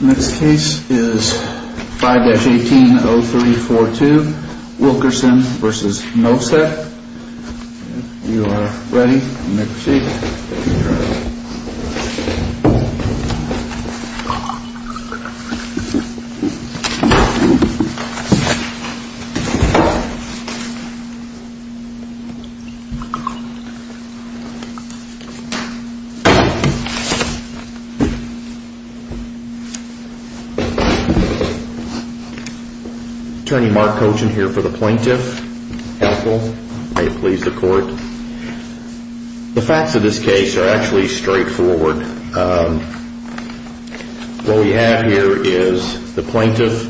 Next case is 5-18-0342, Wilkerson v. Novsek. If you are ready, you may proceed. Attorney Mark Cochin here for the Plaintiff. Counsel, may it please the court. The facts of this case are actually straightforward. What we have here is the plaintiff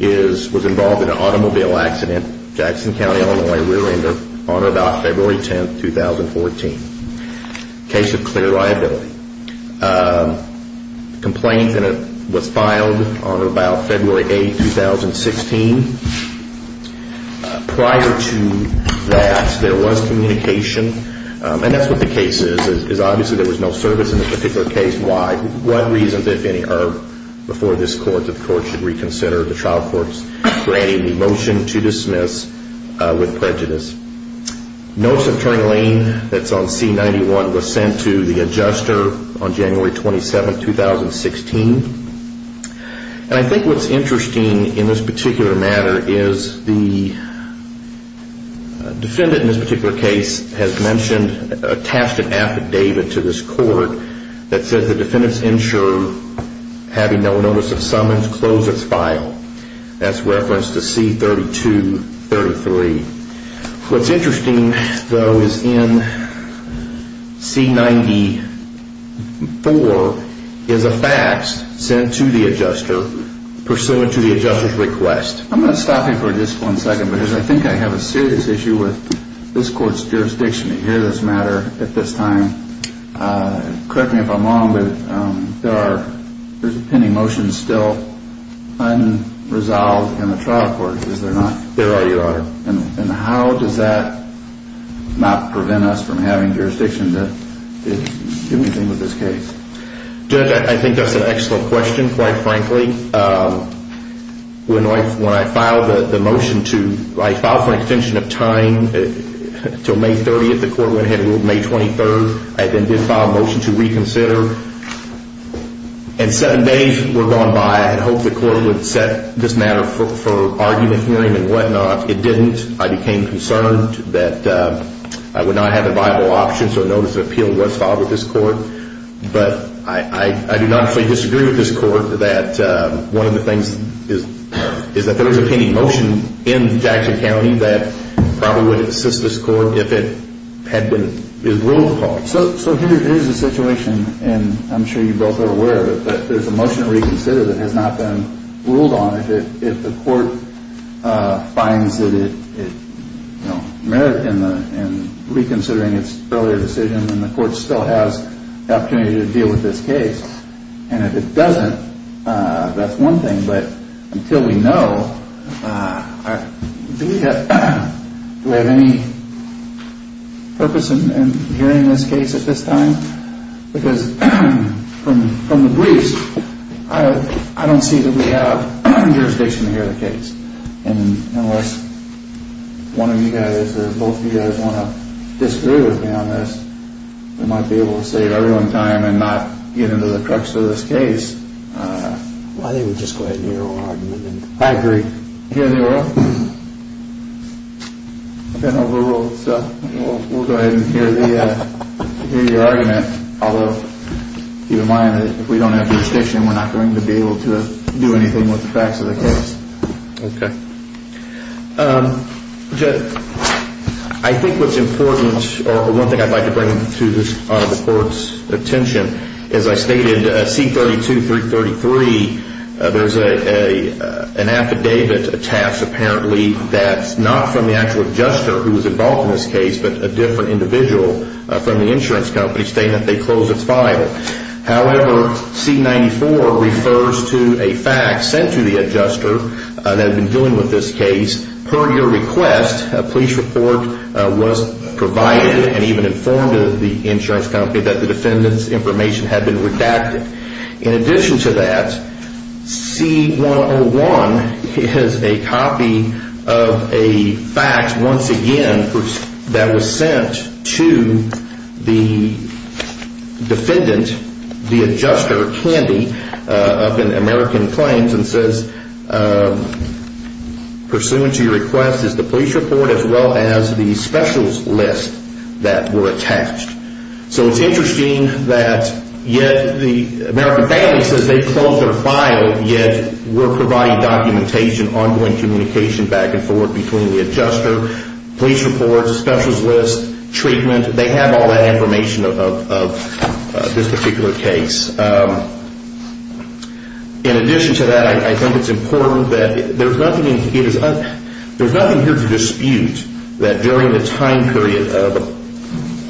was involved in an automobile accident in Jackson County, Illinois on or about February 10, 2014. Case of clear liability. Complaint was filed on or about February 8, 2016. Prior to that, there was communication. That's what the case is. Obviously, there was no service in the particular case. Why? What reasons, if any, are before this court that the court should reconsider the trial court's granting the motion to dismiss with prejudice? Notes of Turing Lane, that's on C-91, was sent to the adjuster on January 27, 2016. And I think what's interesting in this particular matter is the defendant in this particular case has mentioned, attached an affidavit to this court that says the defendant's insurer, having no notice of summons, closed its file. That's reference to C-3233. What's interesting, though, is in C-94 is a fax sent to the adjuster pursuant to the adjuster's request. I'm going to stop you for just one second because I think I have a serious issue with this court's jurisdiction to hear this matter at this time. Correct me if I'm wrong, but there are pending motions still unresolved in the trial court, is there not? There already are. And how does that not prevent us from having jurisdiction to do anything with this case? Judge, I think that's an excellent question, quite frankly. When I filed the motion to, I filed for an extension of time until May 30th, the court went ahead and ruled May 23rd. I then did file a motion to reconsider. And seven days were gone by. I had hoped the court would set this matter for argument hearing and whatnot. It didn't. I became concerned that I would not have a viable option, so a notice of appeal was filed with this court. But I do not fully disagree with this court that one of the things is that there is a pending motion in Jackson County that probably would assist this court if it had been ruled. So here is the situation, and I'm sure you both are aware of it, but there's a motion to reconsider that has not been ruled on. If the court finds that it merits in reconsidering its earlier decision, then the court still has the opportunity to deal with this case. And if it doesn't, that's one thing. But until we know, do we have any purpose in hearing this case at this time? Because from the briefs, I don't see that we have jurisdiction to hear the case. And unless one of you guys or both of you guys want to disagree with me on this, we might be able to save everyone time and not get into the crux of this case. I think we'll just go ahead and hear the oral argument. I agree. Hear the oral? I've been overruled, so we'll go ahead and hear your argument. I'll keep in mind that if we don't have jurisdiction, we're not going to be able to do anything with the facts of the case. Okay. I think what's important, or one thing I'd like to bring to the court's attention, as I stated, C-32333, there's an affidavit attached apparently that's not from the actual adjuster who was involved in this case, but a different individual from the insurance company stating that they closed its file. However, C-94 refers to a fact sent to the adjuster that had been dealing with this case. Per your request, a police report was provided and even informed the insurance company that the defendant's information had been redacted. In addition to that, C-101 is a copy of a fact, once again, that was sent to the defendant, the adjuster, Candy, up in American Plains, and says, pursuant to your request is the police report as well as the specials list that were attached. So it's interesting that yet the American Daily says they closed their file, yet we're providing documentation, ongoing communication back and forth between the adjuster, police reports, specials list, treatment. They have all that information of this particular case. In addition to that, I think it's important that there's nothing here to dispute that during the time period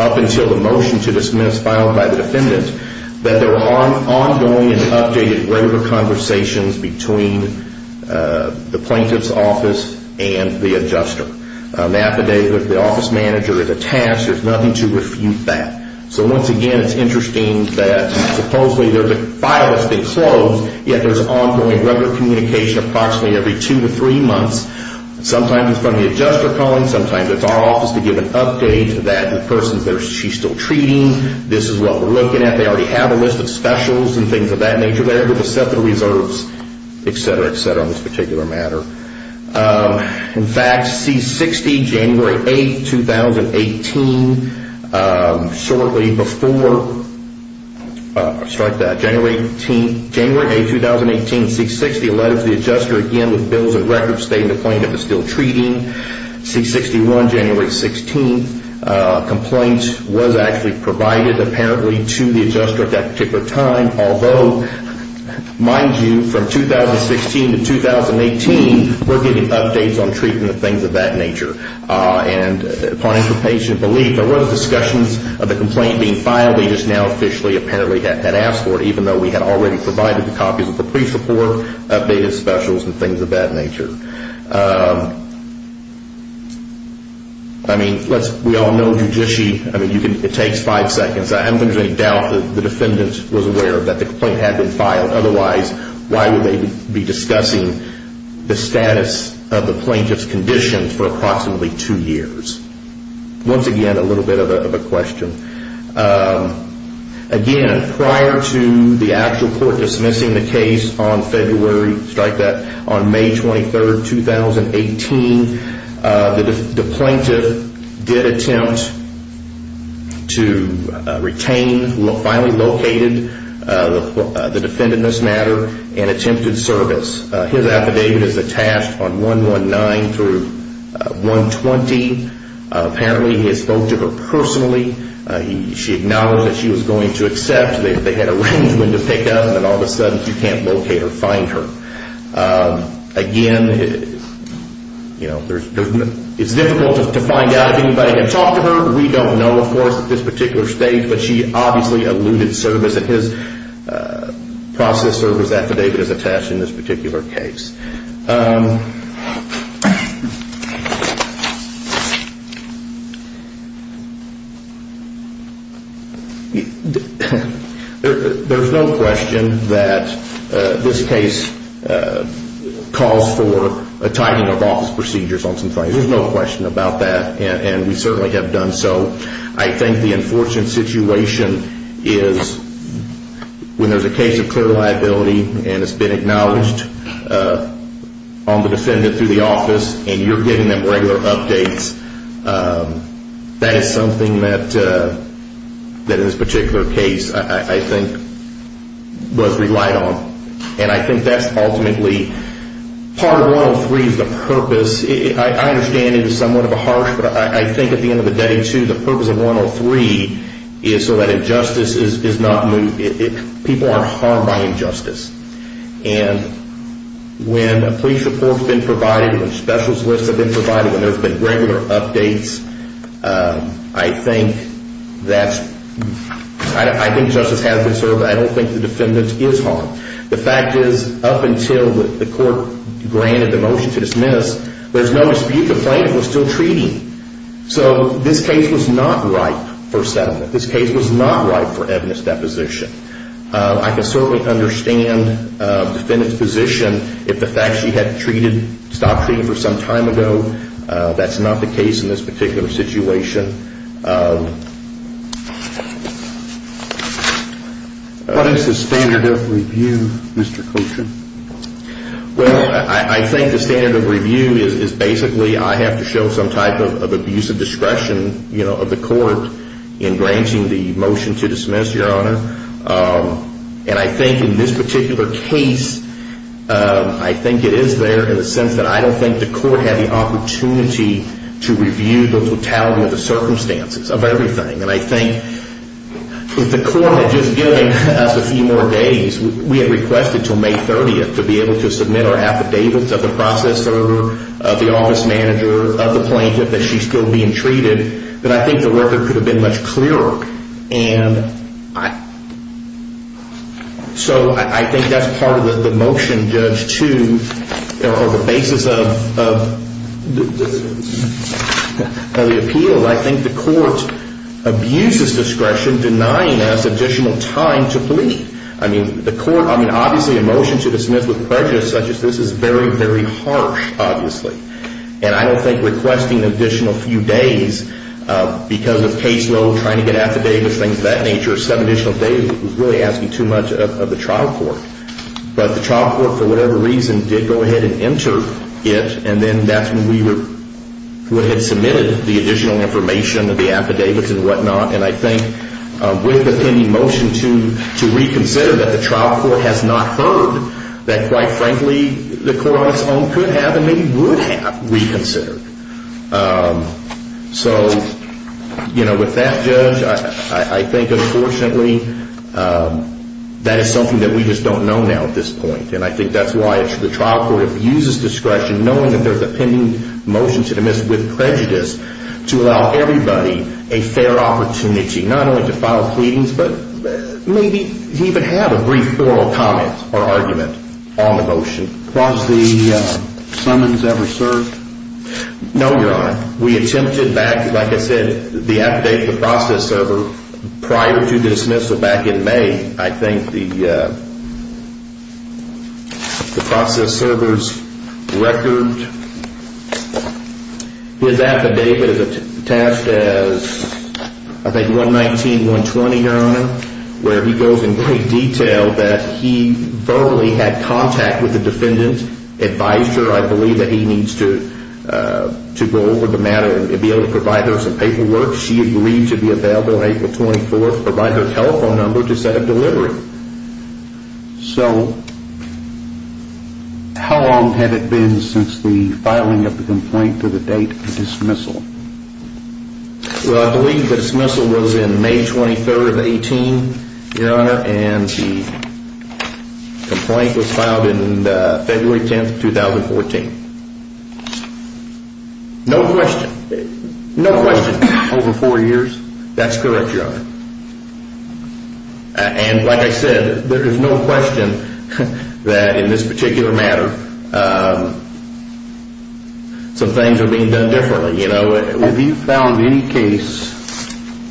up until the motion to dismiss filed by the defendant, that there were ongoing and updated regular conversations between the plaintiff's office and the adjuster. The affidavit, the office manager, it's attached. There's nothing to refute that. So once again, it's interesting that supposedly there's a file that's been closed, yet there's ongoing regular communication approximately every two to three months. Sometimes it's from the adjuster calling, sometimes it's our office to give an update that the person, she's still treating. This is what we're looking at. They already have a list of specials and things of that nature. They're able to set the reserves, et cetera, et cetera, on this particular matter. In fact, C-60, January 8, 2018, shortly before January 8, 2018, C-60 letters the adjuster again with bills and records stating the plaintiff is still treating. C-61, January 16, complaint was actually provided apparently to the adjuster at that particular time. Although, mind you, from 2016 to 2018, we're getting updates on treating and things of that nature. And upon interpatient belief, there was discussions of the complaint being filed. They just now officially apparently had asked for it, even though we had already provided the copies of the police report, updated specials and things of that nature. I mean, we all know judicially, I mean, it takes five seconds. I have no doubt that the defendant was aware that the complaint had been filed. Otherwise, why would they be discussing the status of the plaintiff's condition for approximately two years? Once again, a little bit of a question. Again, prior to the actual court dismissing the case on February, strike that, on May 23, 2018, the plaintiff did attempt to retain, finally located the defendant in this matter and attempted service. His affidavit is attached on 119 through 120. Apparently, he had spoke to her personally. She acknowledged that she was going to accept. They had arranged when to pick up, and all of a sudden, she can't locate or find her. Again, it's difficult to find out if anybody had talked to her. We don't know, of course, at this particular stage, but she obviously alluded service. And his process service affidavit is attached in this particular case. There's no question that this case calls for a tightening of office procedures on some things. There's no question about that, and we certainly have done so. I think the enforcement situation is when there's a case of clear liability and it's been acknowledged on the defendant through the office, and you're getting them regular updates. That is something that, in this particular case, I think was relied on. And I think that's ultimately part of 103 is the purpose. I understand it is somewhat of a harsh, but I think at the end of the day, too, the purpose of 103 is so that injustice is not moved. People aren't harmed by injustice. And when a police report's been provided, when specials lists have been provided, when there's been regular updates, I think justice has been served. I don't think the defendant is harmed. The fact is, up until the court granted the motion to dismiss, there's no dispute the plaintiff was still treating. So this case was not ripe for settlement. This case was not ripe for evidence deposition. I can certainly understand the defendant's position if the fact she had stopped treating for some time ago. That's not the case in this particular situation. What is the standard of review, Mr. Coltrane? Well, I think the standard of review is basically I have to show some type of abusive discretion of the court in granting the motion to dismiss, Your Honor. And I think in this particular case, I think it is there in the sense that I don't think the court had the opportunity to review the totality of the circumstances of everything. And I think if the court had just given us a few more days, we had requested until May 30th to be able to submit our affidavits of the processor, of the office manager, of the plaintiff that she's still being treated, that I think the record could have been much clearer. And so I think that's part of the motion, Judge, too, or the basis of the appeal. I think the court abuses discretion, denying us additional time to plead. I mean, obviously a motion to dismiss with prejudice such as this is very, very harsh, obviously. And I don't think requesting an additional few days because of caseload, trying to get affidavits, things of that nature, seven additional days is really asking too much of the trial court. But the trial court, for whatever reason, did go ahead and enter it. And then that's when we would have submitted the additional information of the affidavits and whatnot. And I think with the pending motion to reconsider that the trial court has not heard that, quite frankly, the court on its own could have and maybe would have reconsidered. So with that, Judge, I think, unfortunately, that is something that we just don't know now at this point. And I think that's why the trial court abuses discretion, knowing that there's a pending motion to dismiss with prejudice, to allow everybody a fair opportunity, not only to file pleadings, but maybe even have a brief oral comment or argument on the motion. Was the summons ever served? No, Your Honor. We attempted back, like I said, the affidavit to the process server prior to dismissal back in May. I think the process server's record, his affidavit is attached as, I think, 119-120, Your Honor, where he goes in great detail that he verbally had contact with the defendant, advised her, I believe, that he needs to go over the matter and be able to provide her some paperwork. She agreed to be available on April 24th, provide her telephone number to set up delivery. So how long had it been since the filing of the complaint to the date of dismissal? Well, I believe the dismissal was in May 23rd of 18, Your Honor, and the complaint was filed in February 10th, 2014. No question? No question. Over four years? That's correct, Your Honor. And like I said, there is no question that in this particular matter some things are being done differently, you know. Have you found any case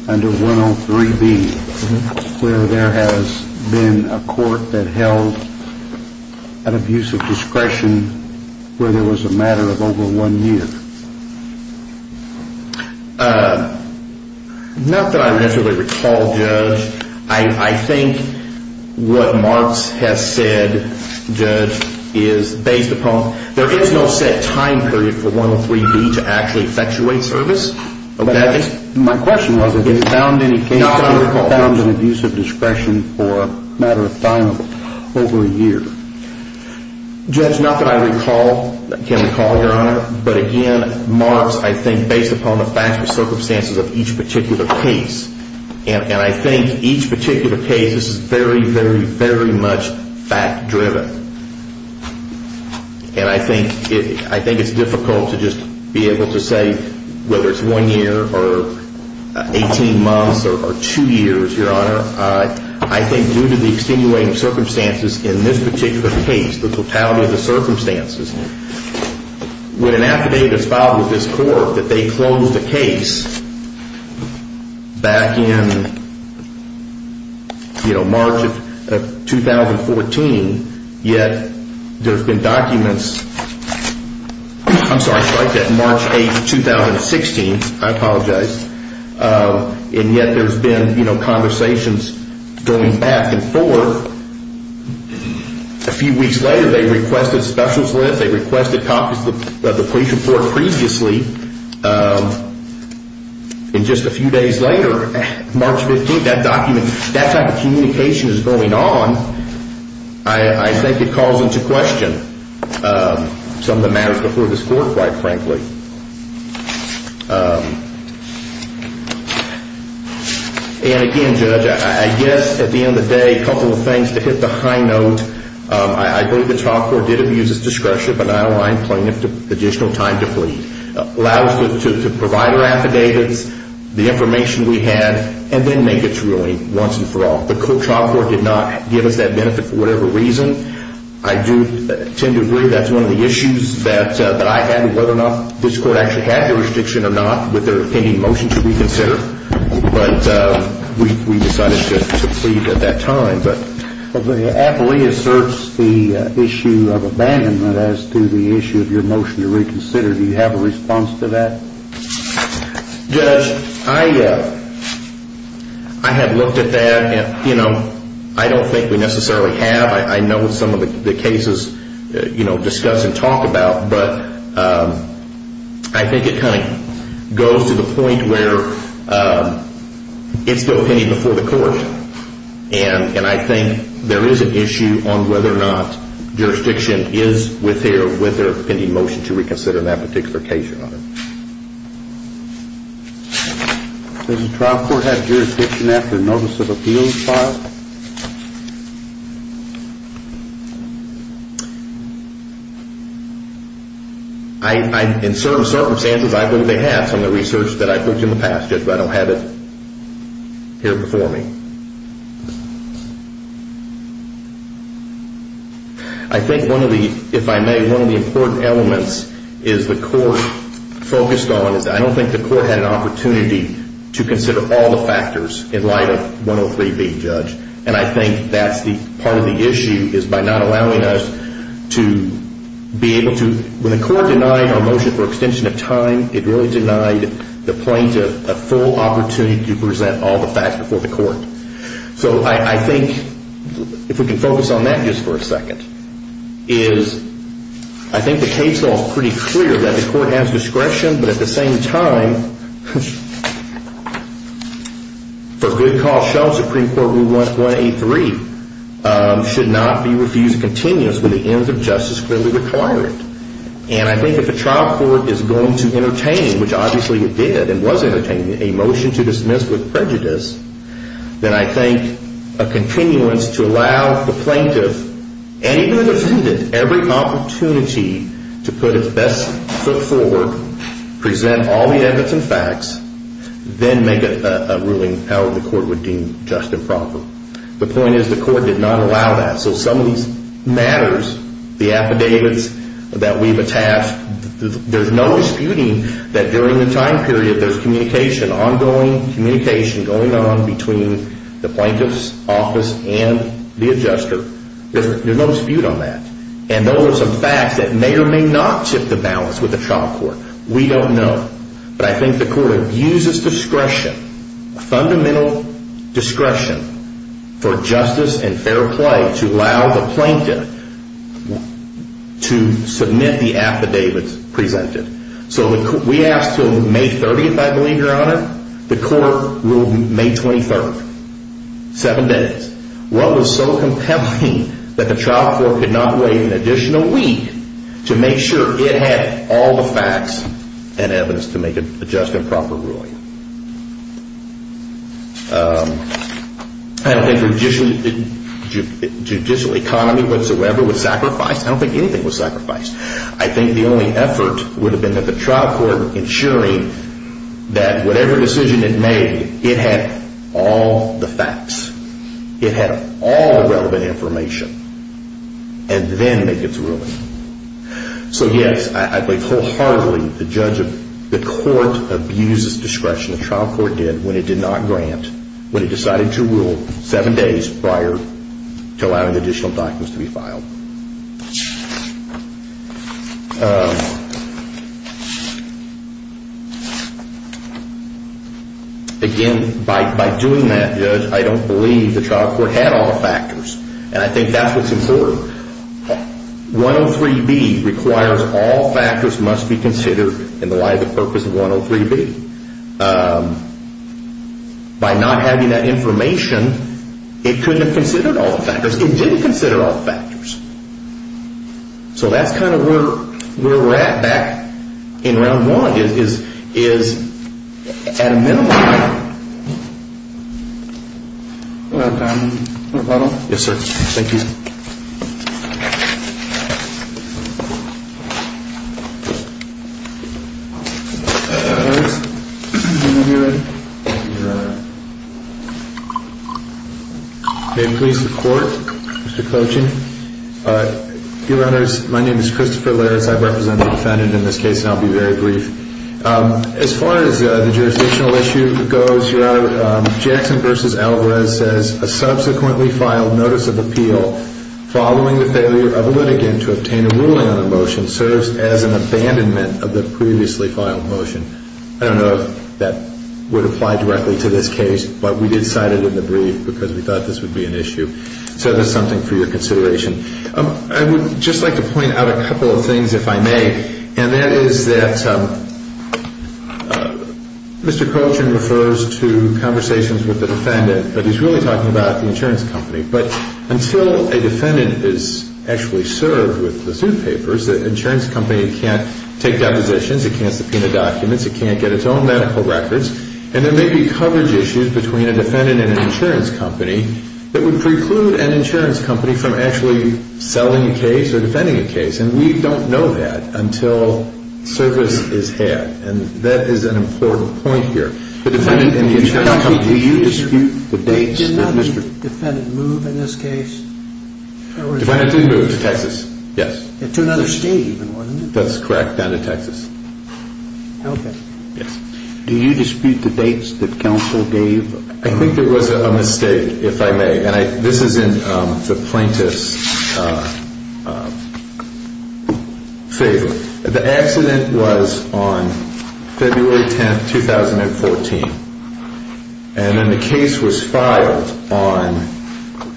under 103B where there has been a court that held an abuse of discretion where there was a matter of over one year? Not that I necessarily recall, Judge. I think what Marks has said, Judge, is based upon there is no set time period for 103B to actually effectuate service. My question was have you found any case where there was an abuse of discretion for a matter of over a year? Judge, not that I can recall, Your Honor, but again, Marks, I think based upon the factual circumstances of each particular case, and I think each particular case is very, very, very much fact-driven. And I think it's difficult to just be able to say whether it's one year or 18 months or two years, Your Honor. I think due to the extenuating circumstances in this particular case, the totality of the circumstances, when an affidavit is filed with this court that they closed the case back in, you know, March of 2014, yet there's been documents, I'm sorry, I should write that, March 8, 2016, I apologize, and yet there's been, you know, conversations going back and forth. A few weeks later, they requested specialist lift. They requested copies of the police report previously. And just a few days later, March 15, that document, that type of communication is going on. I think it calls into question some of the matters before this court, quite frankly. And again, Judge, I guess at the end of the day, a couple of things to hit the high note. I believe the trial court did abuse its discretion, but I don't mind playing additional time to plead. Allow us to provide our affidavits, the information we had, and then make its ruling once and for all. The trial court did not give us that benefit for whatever reason. I do tend to agree that's one of the issues that I had with whether or not this court actually had jurisdiction or not, with their pending motion to reconsider. But we decided to plead at that time. The affilee asserts the issue of abandonment as to the issue of your motion to reconsider. Do you have a response to that? Judge, I have looked at that. You know, I don't think we necessarily have. I know what some of the cases discuss and talk about, but I think it kind of goes to the point where it's still pending before the court. And I think there is an issue on whether or not jurisdiction is with their pending motion to reconsider that particular case or not. Does the trial court have jurisdiction after a notice of appeal is filed? In certain circumstances, I believe they have. Some of the research that I've looked at in the past, Judge, but I don't have it here before me. I think one of the, if I may, one of the important elements is the court focused on, is I don't think the court had an opportunity to consider all the factors in light of 103B, Judge. And I think that's part of the issue is by not allowing us to be able to, when the court denied our motion for extension of time, it really denied the plaintiff a full opportunity to present all the facts before the court. So I think, if we can focus on that just for a second, is I think the case law is pretty clear that the court has discretion, but at the same time, for good cause, show Supreme Court Rule 183, should not be refused continuous when the ends of justice clearly require it. And I think if the trial court is going to entertain, which obviously it did and was entertaining, a motion to dismiss with prejudice, then I think a continuance to allow the plaintiff, and even the defendant, every opportunity to put its best foot forward, present all the evidence and facts, then make a ruling how the court would deem just and proper. The point is the court did not allow that. So some of these matters, the affidavits that we've attached, there's no disputing that during the time period there's communication, ongoing communication going on between the plaintiff's office and the adjuster. There's no dispute on that. And those are some facts that may or may not tip the balance with the trial court. We don't know. But I think the court abuses discretion, fundamental discretion, for justice and fair play to allow the plaintiff to submit the affidavits presented. So we asked till May 30th, I believe, Your Honor, the court ruled May 23rd. Seven days. What was so compelling that the trial court could not wait an additional week to make sure it had all the facts and evidence to make a just and proper ruling? I don't think the judicial economy whatsoever was sacrificed. I don't think anything was sacrificed. I think the only effort would have been that the trial court ensuring that whatever decision it made, it had all the facts, it had all the relevant information, and then make its ruling. So, yes, I believe wholeheartedly the court abuses discretion, the trial court did, when it did not grant, when it decided to rule seven days prior to allowing additional documents to be filed. Again, by doing that, Judge, I don't believe the trial court had all the factors. And I think that's what's important. 103B requires all factors must be considered in the light of the purpose of 103B. By not having that information, it couldn't have considered all the factors. It didn't consider all the factors. So that's kind of where we're at back in round one, is at a minimum. We're out of time. Yes, sir. Thank you. May it please the Court, Mr. Coaching. Viewers, my name is Christopher Larris. I represent the defendant in this case, and I'll be very brief. As far as the jurisdictional issue goes, your Honor, Jackson v. Alvarez says a subsequently filed notice of appeal following the failure of a litigant to obtain a ruling on a motion serves as an abandonment of the previously filed motion. I don't know if that would apply directly to this case, but we did cite it in the brief because we thought this would be an issue. So that's something for your consideration. I would just like to point out a couple of things, if I may. And that is that Mr. Coaching refers to conversations with the defendant, but he's really talking about the insurance company. But until a defendant is actually served with the suit papers, the insurance company can't take depositions. It can't subpoena documents. It can't get its own medical records. And there may be coverage issues between a defendant and an insurance company that would preclude an insurance company from actually selling a case or defending a case. And we don't know that until service is had. And that is an important point here. The defendant and the insurance company, do you dispute the dates? Did not the defendant move in this case? The defendant did move to Texas, yes. To another state even, wasn't it? That's correct, down to Texas. Okay. Yes. Do you dispute the dates that counsel gave? I think there was a mistake, if I may. This is in the plaintiff's favor. The accident was on February 10th, 2014. And then the case was filed on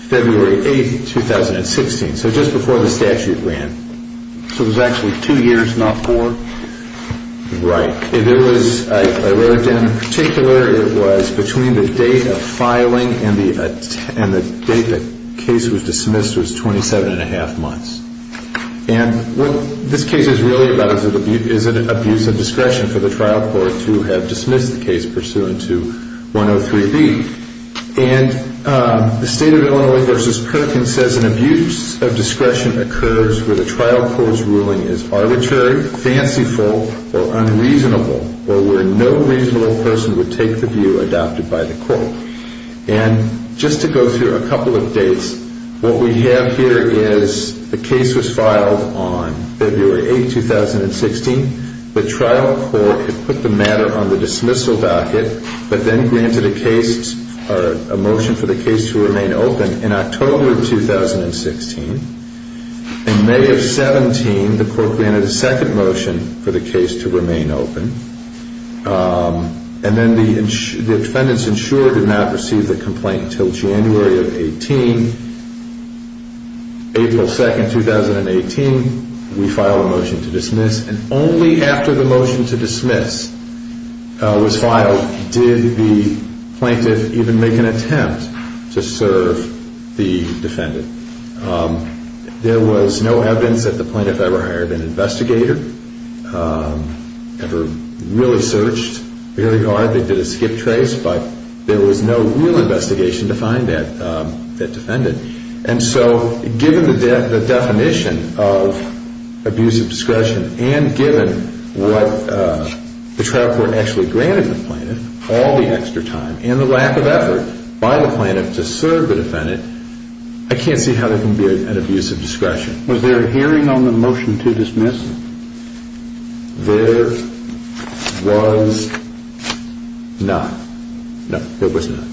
February 8th, 2016, so just before the statute ran. So it was actually two years, not four? Right. I wrote it down in particular. It was between the date of filing and the date the case was dismissed was 27 1⁄2 months. And what this case is really about is an abuse of discretion for the trial court to have dismissed the case pursuant to 103B. And the State of Illinois v. Perkins says an abuse of discretion occurs where the trial court's ruling is arbitrary, fanciful, or unreasonable, or where no reasonable person would take the view adopted by the court. And just to go through a couple of dates, what we have here is the case was filed on February 8th, 2016. The trial court had put the matter on the dismissal backet but then granted a motion for the case to remain open in October of 2016. In May of 2017, the court granted a second motion for the case to remain open. And then the defendants insured did not receive the complaint until January of 2018. April 2, 2018, we filed a motion to dismiss, and only after the motion to dismiss was filed did the plaintiff even make an attempt to serve the defendant. There was no evidence that the plaintiff ever hired an investigator, ever really searched very hard. They did a skip trace, but there was no real investigation to find that defendant. And so given the definition of abuse of discretion and given what the trial court actually granted the plaintiff, all the extra time and the lack of effort by the plaintiff to serve the defendant, I can't see how there can be an abuse of discretion. Was there a hearing on the motion to dismiss? There was not. No, there was not.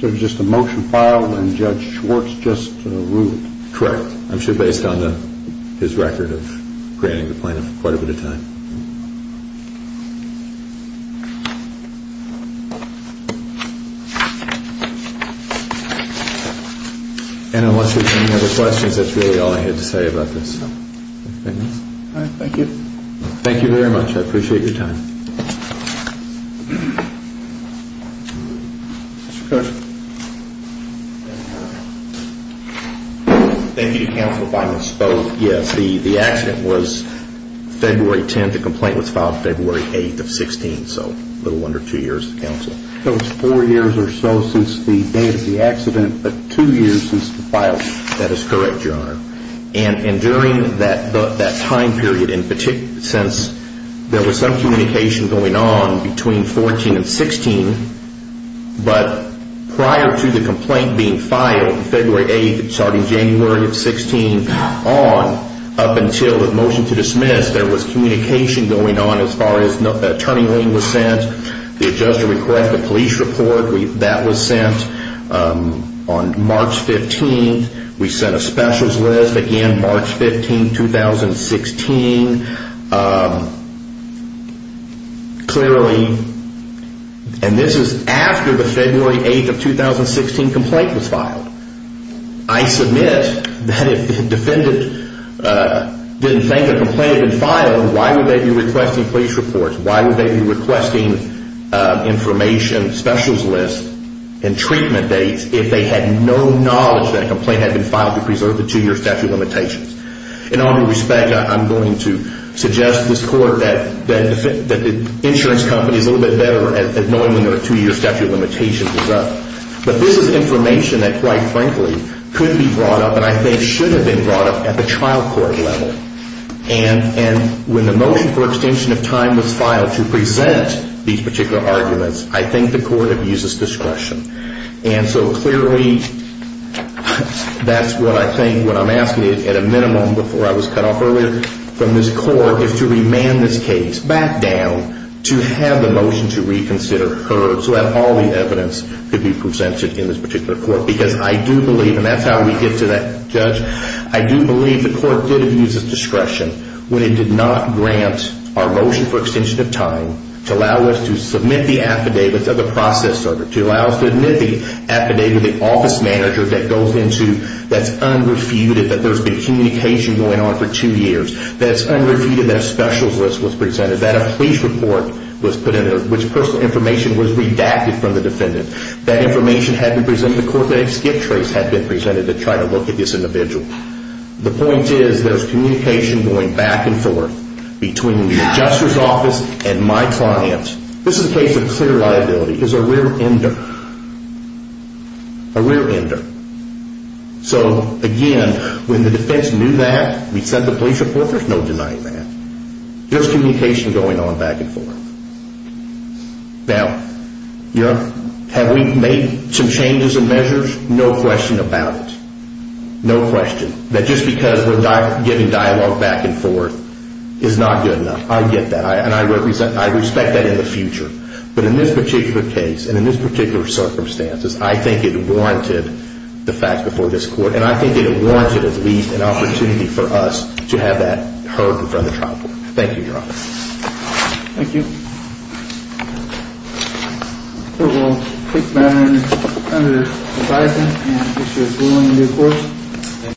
So it was just a motion filed and Judge Schwartz just ruled? Correct. I'm sure based on his record of granting the plaintiff quite a bit of time. And unless there's any other questions, that's really all I had to say about this. All right. Thank you. Thank you very much. I appreciate your time. Thank you to counsel if I misspoke. Yes, the accident was February 10th. The complaint was filed February 8th of 2016, so a little under two years to counsel. It was four years or so since the date of the accident, but two years since the filing. That is correct, Your Honor. And during that time period in particular, since there was some communication going on between 14 and 16, but prior to the complaint being filed February 8th starting January 16th on, up until the motion to dismiss, there was communication going on as far as the turning lane was sent, the adjuster request, the police report, that was sent on March 15th. We sent a specials list, again, March 15th, 2016. Clearly, and this is after the February 8th of 2016 complaint was filed. I submit that if the defendant didn't think the complaint had been filed, why would they be requesting police reports? Why would they be requesting information, specials lists, and treatment dates if they had no knowledge that a complaint had been filed to preserve the two-year statute of limitations? In all due respect, I'm going to suggest to this Court that the insurance company is a little bit better at knowing when their two-year statute of limitations is up. But this is information that, quite frankly, could be brought up, and I think should have been brought up at the trial court level. And when the motion for extension of time was filed to present these particular arguments, I think the Court abuses discretion. And so clearly, that's what I think, what I'm asking at a minimum, before I was cut off earlier from this Court, is to remand this case back down to have the motion to reconsider heard so that all the evidence could be presented in this particular Court. Because I do believe, and that's how we get to that, Judge, I do believe the Court did abuse its discretion when it did not grant our motion for extension of time to allow us to submit the affidavits of the process server, to allow us to submit the affidavit of the office manager that goes into, that's unrefuted, that there's been communication going on for two years, that's unrefuted, that a specials list was presented, that a police report was put in, which personal information was redacted from the defendant. That information had been presented to the Court, that a skip trace had been presented to try to look at this individual. The point is, there's communication going back and forth between the adjuster's office and my client. This is a case of clear liability. He's a rear ender. A rear ender. So, again, when the defense knew that, we sent the police report, there's no denying that. There's communication going on back and forth. Now, you know, have we made some changes in measures? No question about it. No question. That just because we're giving dialogue back and forth is not good enough. I get that. And I respect that in the future. But in this particular case, and in this particular circumstances, I think it warranted the fact before this Court, and I think it warranted at least an opportunity for us to have that heard before the trial court. Thank you, Your Honor. Thank you. The Court will take that under advisement and issue a ruling in due course.